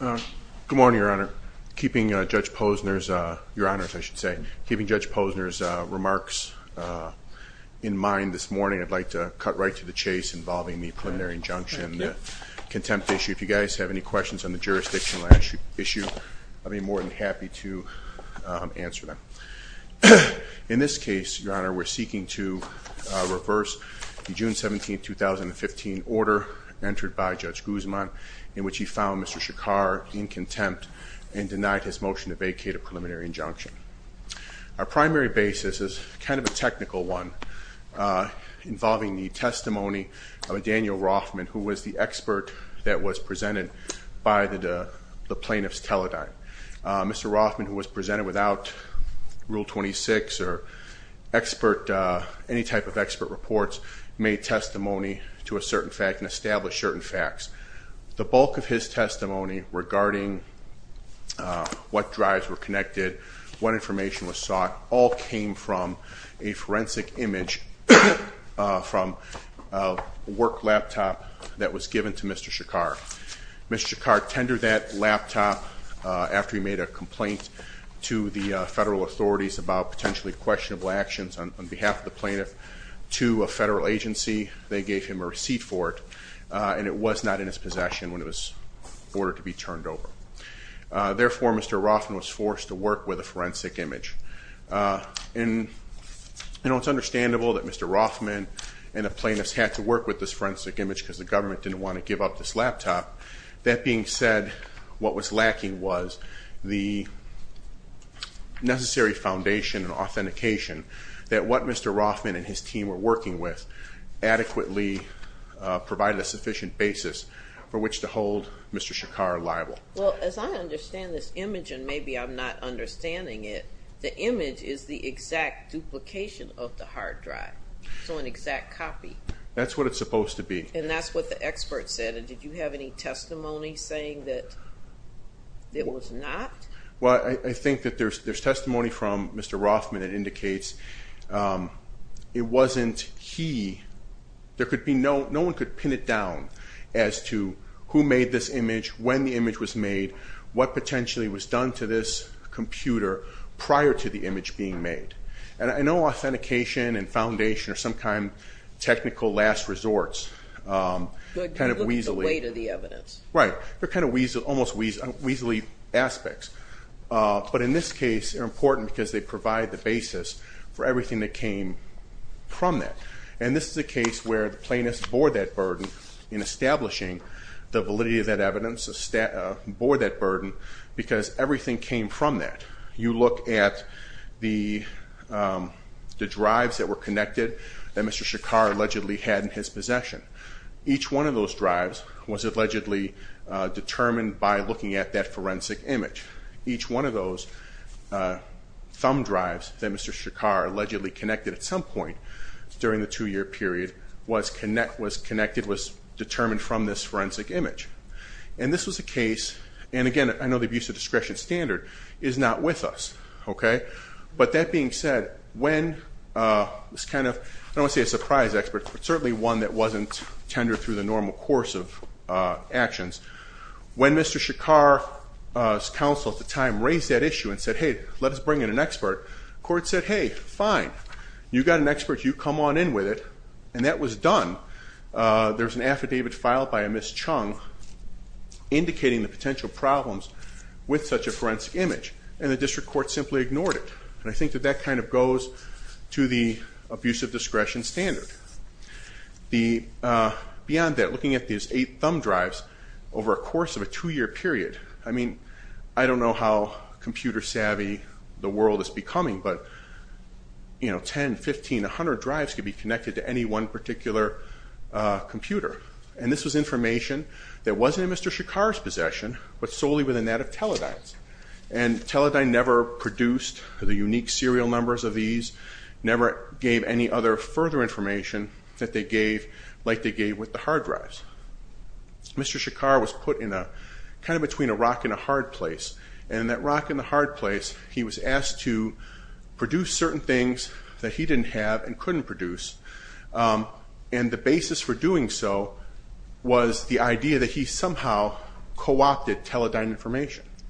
Good morning, Your Honor. Keeping Judge Posner's remarks in mind this morning, I'd like to cut right to the chase involving the preliminary injunction contempt issue. If you guys have any questions on the jurisdiction issue, I'd be more than happy to answer them. In this case, it was a 2017-2015 order entered by Judge Guzman in which he found Mr. Shekar in contempt and denied his motion to vacate a preliminary injunction. Our primary basis is kind of a technical one involving the testimony of Daniel Rothman, who was the expert that was presented by the plaintiff's teledyne. Mr. Rothman, who was presented without Rule 26 or expert, any type of expert reports, made testimony to a certain fact and established certain facts. The bulk of his testimony regarding what drives were connected, what information was sought, all came from a forensic image from a work laptop that was given to Mr. Shekar. Mr. Shekar tendered that laptop after he made a complaint to the federal authorities about potentially questionable actions on behalf of the plaintiff to a federal agency. They gave him a receipt for it, and it was not in his possession when it was ordered to be turned over. Therefore, Mr. Rothman was forced to work with a forensic image. It's understandable that Mr. Rothman and the plaintiffs had to work with this forensic image because the laptop. That being said, what was lacking was the necessary foundation and authentication that what Mr. Rothman and his team were working with adequately provided a sufficient basis for which to hold Mr. Shekar liable. Well, as I understand this image, and maybe I'm not understanding it, the image is the exact duplication of the hard drive, so an exact copy. That's what it's supposed to be. And that's what the expert said. And did you have any testimony saying that it was not? Well, I think that there's testimony from Mr. Rothman that indicates it wasn't he. There could be no, no one could pin it down as to who made this image, when the image was made, what potentially was done to this computer prior to the image being made. And I know authentication and foundation are some kind of technical last resorts, kind of weasely. But look at the weight of the evidence. Right. They're kind of almost weasely aspects. But in this case, they're important because they provide the basis for everything that came from that. And this is a case where the plaintiffs bore that burden in establishing the validity of that evidence, bore that burden because everything came from that. You look at the drives that were connected that Mr. Shekar allegedly had in his possession. Each one of those drives was allegedly determined by looking at that forensic image. Each one of those thumb drives that Mr. Shekar allegedly connected at some point during the two-year period was connected, was determined from this forensic image. And this was a case, and again, I know the abuse of discretion standard is not with us. Okay. But that being said, when this kind of, I don't want to say a surprise expert, but certainly one that wasn't tender through the normal course of actions. When Mr. Shekar's counsel at the time raised that issue and said, hey, let us bring in an expert, court said, hey, fine. You got an expert. You come on in with it. And that was done. There's an affidavit filed by a Ms. Chung indicating the potential problems with such a forensic image. And the district court simply ignored it. And I think that that kind of goes to the abuse of discretion standard. Beyond that, looking at these eight thumb drives over a course of a two-year period, I mean, I don't know how computer savvy the world is becoming, but you know, 10, 15, 100 drives could be connected to any one particular computer. And this was information that wasn't in Mr. Shekar's possession, but solely within that Teledyne's. And Teledyne never produced the unique serial numbers of these, never gave any other further information that they gave like they gave with the hard drives. Mr. Shekar was put in a, kind of between a rock and a hard place. And that rock and the hard place, he was asked to produce certain things that he didn't have and couldn't produce. And the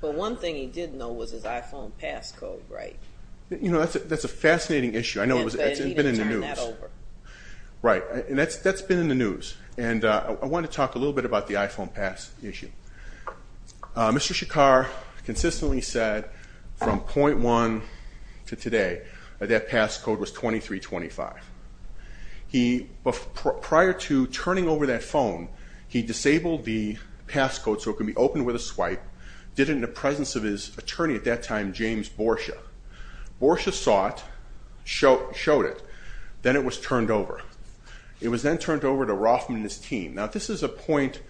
But one thing he did know was his iPhone passcode, right? You know, that's a fascinating issue. I know it's been in the news. And he didn't turn that over. Right. And that's been in the news. And I want to talk a little bit about the iPhone pass issue. Mr. Shekar consistently said from point one to today that passcode was 2325. He, prior to turning over that phone, he disabled the passcode so it could be opened with a presence of his attorney at that time, James Borsha. Borsha saw it, showed it, then it was turned over. It was then turned over to Rothman and his team. Now this is a point,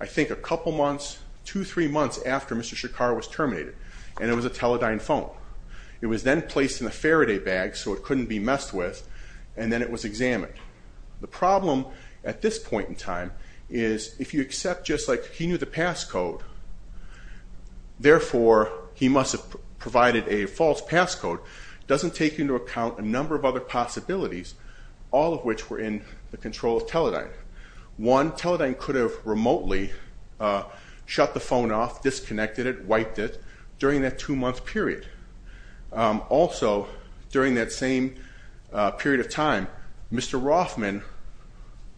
I think a couple months, two, three months after Mr. Shekar was terminated. And it was a Teledyne phone. It was then placed in a Faraday bag so it couldn't be messed with. And then it was examined. The problem at this point in time is if you accept just like he knew the passcode, therefore he must have provided a false passcode, doesn't take into account a number of other possibilities, all of which were in the control of Teledyne. One, Teledyne could have remotely shut the phone off, disconnected it, wiped it during that two-month period. Also, during that same period of time, Mr. Rothman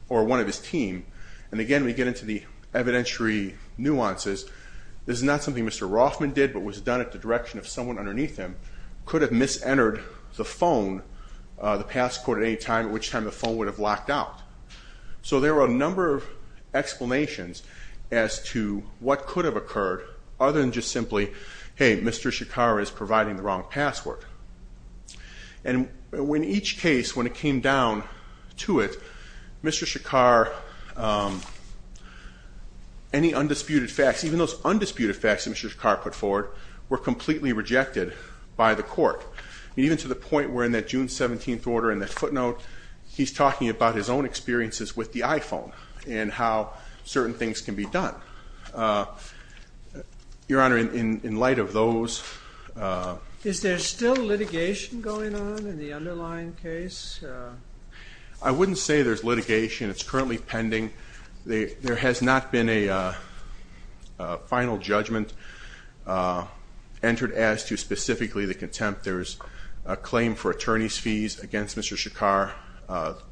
or one of his team, and again we get into the evidentiary nuances, this is not something Mr. Rothman did but was done at the direction of someone underneath him, could have mis-entered the phone, the passcode at any time at which time the phone would have locked out. So there were a number of explanations as to what could have occurred other than just simply, hey, Mr. Shekar is providing the wrong password. And in each case, when it came down to it, Mr. Shekar, any undisputed facts, even those undisputed facts that Mr. Shekar put forward were completely rejected by the court. Even to the point where in that June 17th order in that footnote, he's talking about his own experiences with the iPhone and how certain things can be done. Your Honor, in light of those... Is there still litigation going on in the underlying case? I wouldn't say there's litigation. It's currently pending. There has not been a final judgment entered as to specifically the contempt. There's a claim for attorney's fees against Mr. Shekar.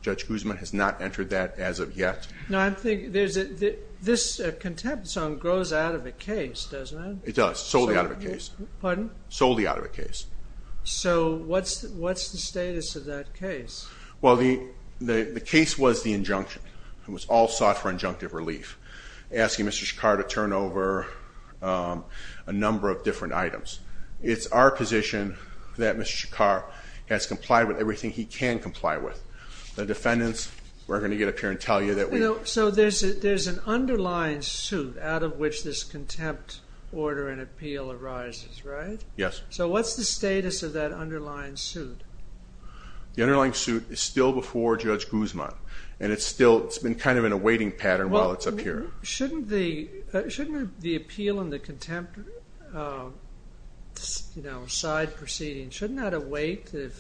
Judge Guzman has not entered that as of yet. No, I think this contempt zone grows out of a case, doesn't it? It does, solely out of a case. Pardon? Solely out of a case. So what's the status of that case? Well, the case was the injunction. It was all sought for injunctive relief. Asking Mr. Shekar to turn over a number of different items. It's our position that Mr. Shekar has complied with everything he can comply with. The defendants, we're going to get up here and tell you that we... So there's an underlying suit out of which this contempt order and appeal arises, right? Yes. So what's the status of that underlying suit? The underlying suit is still before Judge Guzman. It's been kind of in a waiting pattern while it's up here. Shouldn't the appeal and the contempt side proceeding, shouldn't that await the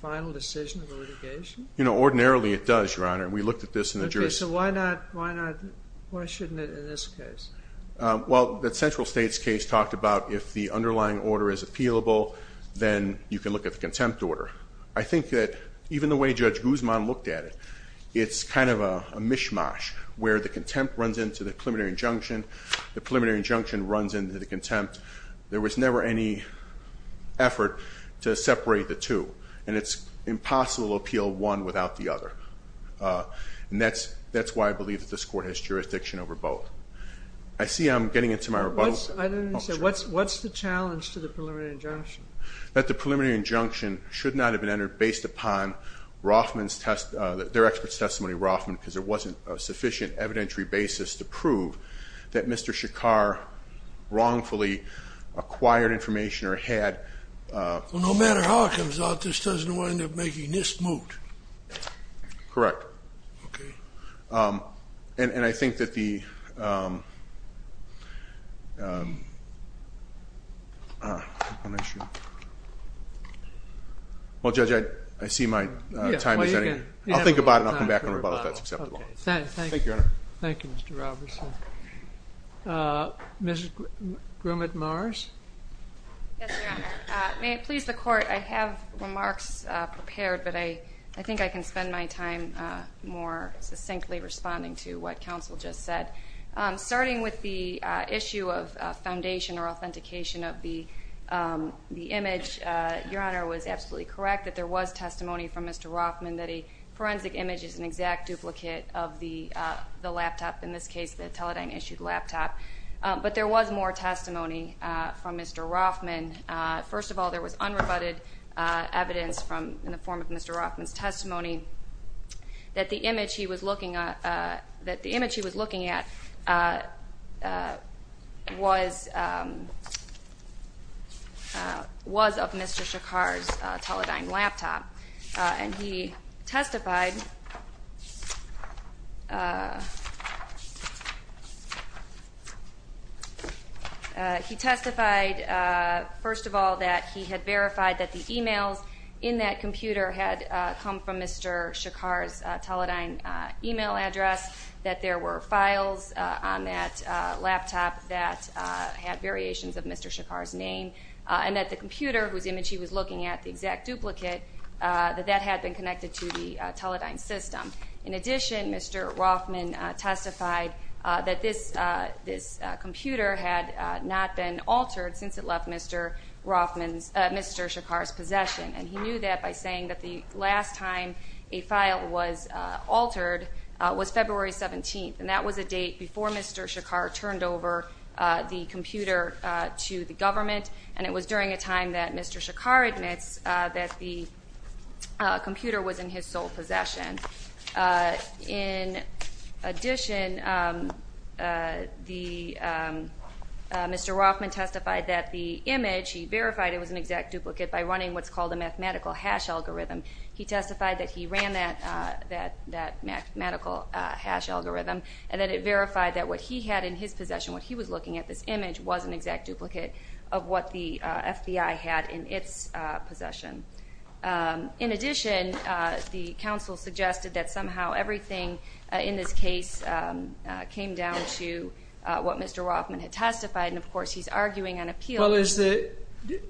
final decision of the litigation? Ordinarily it does, Your Honor. We looked at this in the jury... Okay, so why shouldn't it in this case? Well, the central states case talked about if the underlying order is appealable, then you can look at the contempt order. I think that even the way Judge Guzman looked at it, it's kind of a mishmash where the contempt runs into the preliminary injunction, the preliminary injunction runs into the contempt. There was never any effort to separate the two. And it's impossible to appeal one without the other. And that's why I believe that this I see I'm getting into my rebuttal. I didn't understand. What's the challenge to the preliminary injunction? That the preliminary injunction should not have been entered based upon their expert's testimony, Roffman, because there wasn't a sufficient evidentiary basis to prove that Mr. Shakar wrongfully acquired information or had... Well, no matter how it comes out, this doesn't wind up making this moot. Correct. Okay. And I think that the... Well, Judge, I see my time is ending. I'll think about it and I'll come back and rebuttal if that's acceptable. Okay. Thank you. Thank you, Your Honor. Thank you, Mr. Robertson. Mrs. Grumit-Mars? Yes, Your Honor. May it please the court, I have remarks prepared, but I think I can take time more succinctly responding to what counsel just said. Starting with the issue of foundation or authentication of the image, Your Honor was absolutely correct that there was testimony from Mr. Roffman that a forensic image is an exact duplicate of the laptop, in this case, the Teledyne-issued laptop. But there was more testimony from Mr. Roffman. First of all, there was unrebutted evidence in the form of Mr. Roffman's testimony that the image he was looking at was of Mr. Shakar's Teledyne laptop. And he testified, first of all, that he had verified that the emails in that computer had come from Mr. Shakar's Teledyne email address, that there were files on that laptop that had variations of Mr. Shakar's name, and that the computer whose image he was looking at, the exact duplicate, that that had been connected to the Teledyne system. In addition, Mr. Roffman testified that this computer had not been altered since it left Mr. Shakar's possession. And he knew that by saying that the last time a file was altered was February 17th, and that was a date before Mr. Shakar turned over the computer to the government, and it was during a time that Mr. Shakar admits that the computer was in his sole possession. In addition, Mr. Roffman testified that the image, he verified it was an exact duplicate by running what's called a mathematical hash algorithm. He testified that he ran that mathematical hash algorithm, and that it verified that what he had in his possession, what he was looking at, this image, was an exact duplicate of what the FBI had in its possession. In addition, the counsel suggested that somehow everything in this case came down to what Mr. Roffman had testified, and of course he's arguing an appeal.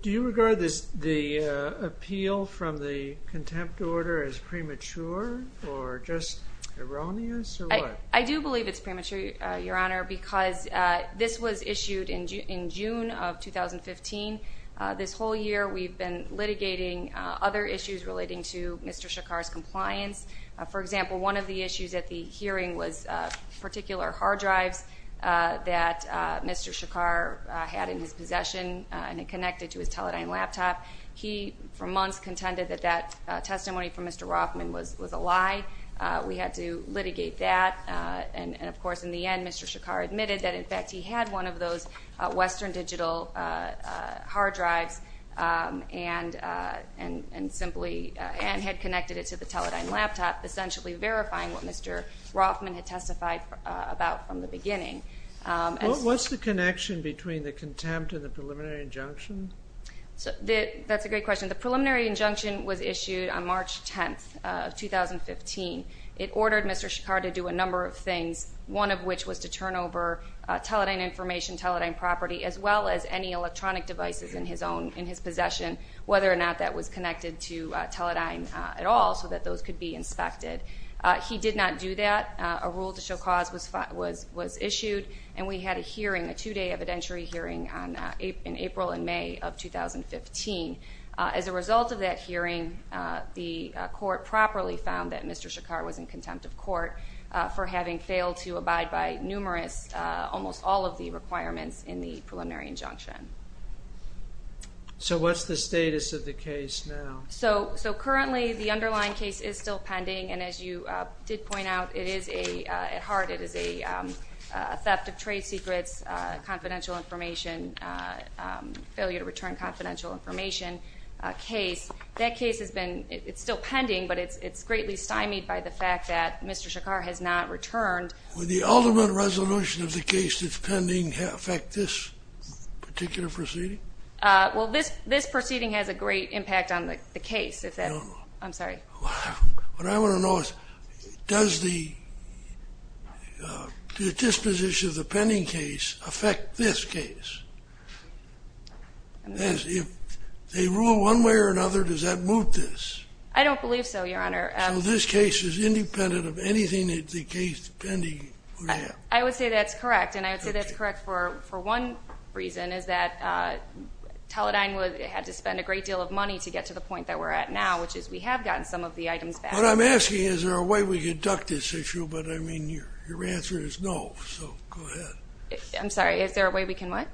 Do you regard the appeal from the contempt order as premature or just erroneous, or what? I do believe it's premature, Your Honor, because this was issued in June of 2015. This whole year we've been litigating other issues relating to Mr. Shakar's compliance. For example, one of the issues at the hearing was particular hard drives that Mr. Shakar had in his possession and it connected to his Teledyne laptop. He, for months, contended that that testimony from Mr. Roffman was a lie. We had to litigate that, and of course, in the end, Mr. Shakar admitted that, in fact, he had one of those Western Digital hard drives and had connected it to the Teledyne laptop, essentially verifying what Mr. Roffman had testified about from the beginning. What's the connection between the contempt and the preliminary injunction? That's a great question. The preliminary injunction was issued on March 10th of 2015. It ordered Mr. Shakar to do a number of things, one of which was to turn over Teledyne information, Teledyne property, as well as any electronic devices in his possession, whether or not that was connected to Teledyne at all so that those could be inspected. He did not do that. A rule to show cause was issued, and we had a hearing, a two-day evidentiary hearing in April and May of 2015. As a result of that hearing, the court properly found that Mr. Shakar was in contempt of court for having failed to abide by numerous, almost all of the requirements in the preliminary injunction. What's the status of the case now? Currently, the underlying case is still pending, and as you did point out, it is a, at heart, it is a theft of trade secrets, confidential information, failure to return confidential information case. That case has been, it's still pending, but it's greatly stymied by the fact that Mr. Shakar has not returned. Will the ultimate resolution of the case that's pending affect this particular proceeding? Well, this proceeding has a great impact on the case. I'm sorry. What I want to know is does the disposition of the pending case affect this case? If they rule one way or another, does that move this? I don't believe so, Your Honor. So this case is independent of anything that the case pending would have? I would say that's correct, and I would say that's correct for one reason, is that Teledyne had to spend a great deal of money to get to the point that we're at now, which is we have gotten some of the items back. What I'm asking is, is there a way we can duck this issue? But, I mean, your answer is no, so go ahead. I'm sorry. Is there a way we can what?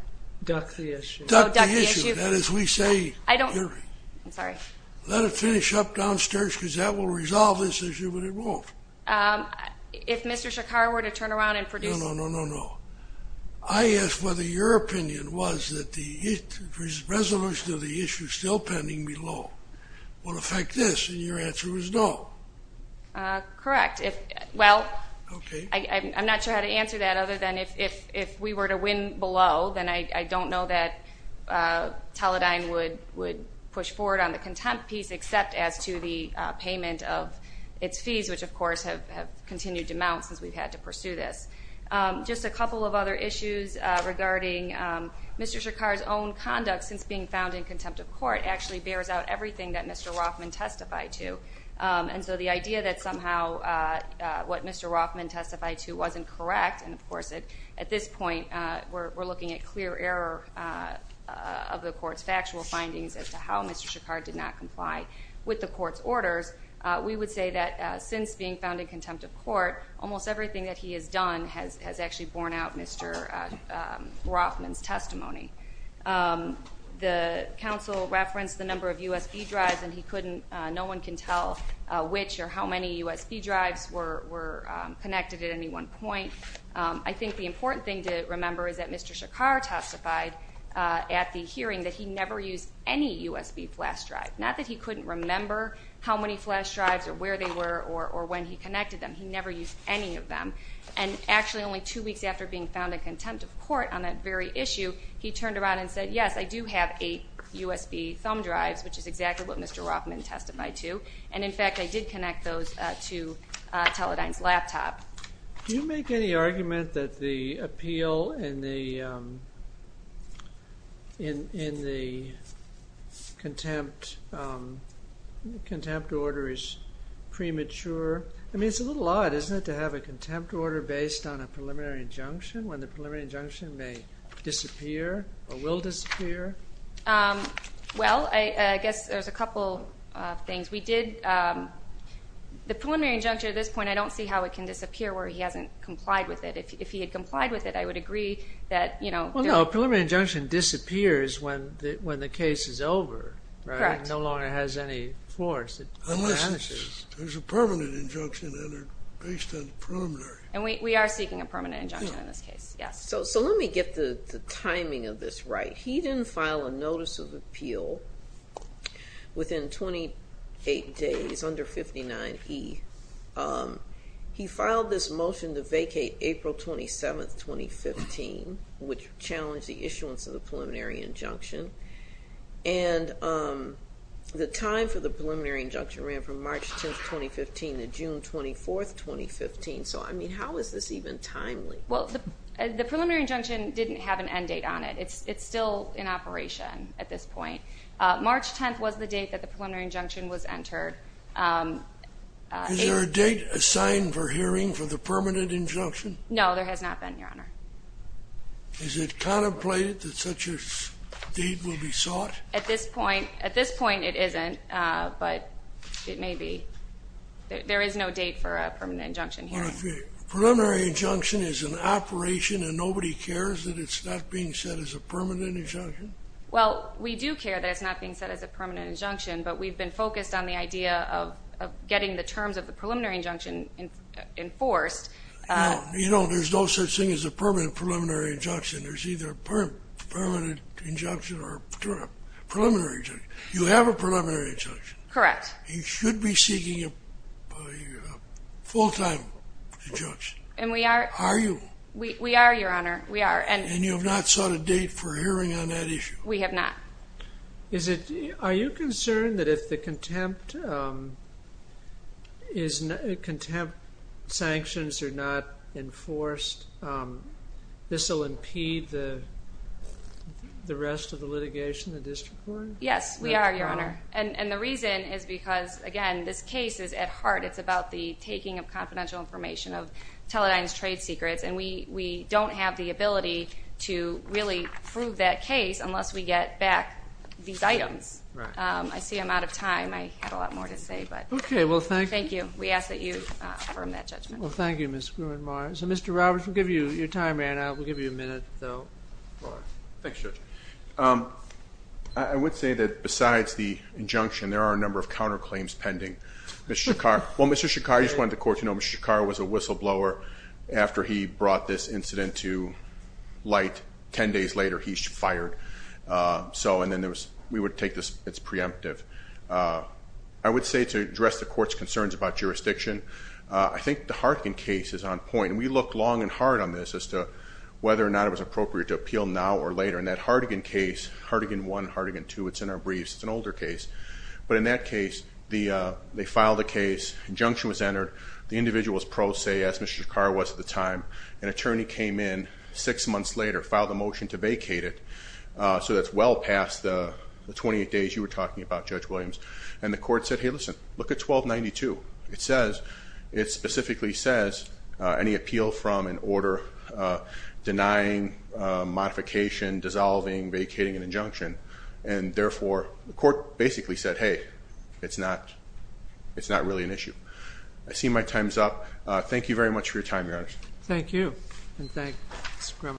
Duck the issue. Duck the issue. That is, we say. I don't. I'm sorry. Let it finish up downstairs because that will resolve this issue, but it won't. If Mr. Shakar were to turn around and produce. No, no, no, no, no. I asked whether your opinion was that the resolution of the issue still pending below will affect this, and your answer was no. Correct. Well, I'm not sure how to answer that other than if we were to win below, then I don't know that Teledyne would push forward on the contempt piece, except as to the payment of its fees, which, of course, have continued to mount since we've had to pursue this. Just a couple of other issues regarding Mr. Shakar's own conduct since being found in contempt of court actually bears out everything that Mr. Rothman testified to, and so the idea that somehow what Mr. Rothman testified to wasn't correct, and, of course, at this point we're looking at clear error of the court's factual findings as to how Mr. Shakar did not comply with the court's orders, we would say that since being found in contempt of court, almost everything that he has done has actually borne out Mr. Rothman's testimony. The counsel referenced the number of USB drives, and no one can tell which or how many USB drives were connected at any one point. I think the important thing to remember is that Mr. Shakar testified at the hearing that he never used any USB flash drive, not that he couldn't remember how many flash drives or where they were or when he connected them. He never used any of them, and actually only two weeks after being found in contempt of court on that very issue, he turned around and said, yes, I do have eight USB thumb drives, which is exactly what Mr. Rothman testified to, and, in fact, I did connect those to Teledyne's laptop. Do you make any argument that the appeal in the contempt order is premature? I mean, it's a little odd, isn't it, to have a contempt order based on a preliminary injunction when the preliminary injunction may disappear or will disappear? Well, I guess there's a couple of things. The preliminary injunction at this point, I don't see how it can disappear where he hasn't complied with it. If he had complied with it, I would agree that, you know— Well, no, a preliminary injunction disappears when the case is over. Correct. It no longer has any force. Unless there's a permanent injunction based on the preliminary. And we are seeking a permanent injunction in this case, yes. So let me get the timing of this right. He didn't file a notice of appeal within 28 days, under 59E. He filed this motion to vacate April 27, 2015, which challenged the issuance of the preliminary injunction. And the time for the preliminary injunction ran from March 10, 2015 to June 24, 2015. So, I mean, how is this even timely? Well, the preliminary injunction didn't have an end date on it. It's still in operation at this point. March 10th was the date that the preliminary injunction was entered. Is there a date assigned for hearing for the permanent injunction? No, there has not been, Your Honor. Is it contemplated that such a date will be sought? At this point, it isn't. But it may be. There is no date for a permanent injunction hearing. Preliminary injunction is an operation and nobody cares that it's not being said as a permanent injunction? Well, we do care that it's not being said as a permanent injunction, but we've been focused on the idea of getting the terms of the preliminary injunction enforced. You know, there's no such thing as a permanent preliminary injunction. There's either a permanent injunction or a preliminary injunction. You have a preliminary injunction. Correct. You should be seeking a full-time injunction. And we are. Are you? We are, Your Honor. And you have not sought a date for hearing on that issue? We have not. Are you concerned that if the contempt sanctions are not enforced, this will impede the rest of the litigation, the district court? Yes, we are, Your Honor. And the reason is because, again, this case is at heart. It's about the taking of confidential information of Teledyne's trade secrets, and we don't have the ability to really prove that case unless we get back these items. Right. I see I'm out of time. I have a lot more to say. Okay. Well, thank you. We ask that you affirm that judgment. Well, thank you, Ms. Gruenmeier. So, Mr. Roberts, we'll give you your time, and we'll give you a minute. Thanks, Judge. I would say that, besides the injunction, there are a number of counterclaims pending. Mr. Shakar, well, Mr. Shakar, I just wanted the court to know, Mr. Shakar was a whistleblower after he brought this incident to light. Ten days later, he's fired. And then we would take this as preemptive. I would say to address the court's concerns about jurisdiction, I think the Hartigan case is on point, and we looked long and hard on this as to whether or not it was appropriate to appeal now or later. And that Hartigan case, Hartigan I, Hartigan II, it's in our briefs. It's an older case. But in that case, they filed a case, injunction was entered, the individual was pro se, as Mr. Shakar was at the time. An attorney came in six months later, filed a motion to vacate it. So that's well past the 28 days you were talking about, Judge Williams. And the court said, hey, listen, look at 1292. It says, it specifically says, any appeal from an order denying modification dissolving vacating an injunction. And therefore, the court basically said, hey, it's not really an issue. I see my time's up. Thank you very much for your time, Your Honor. Thank you.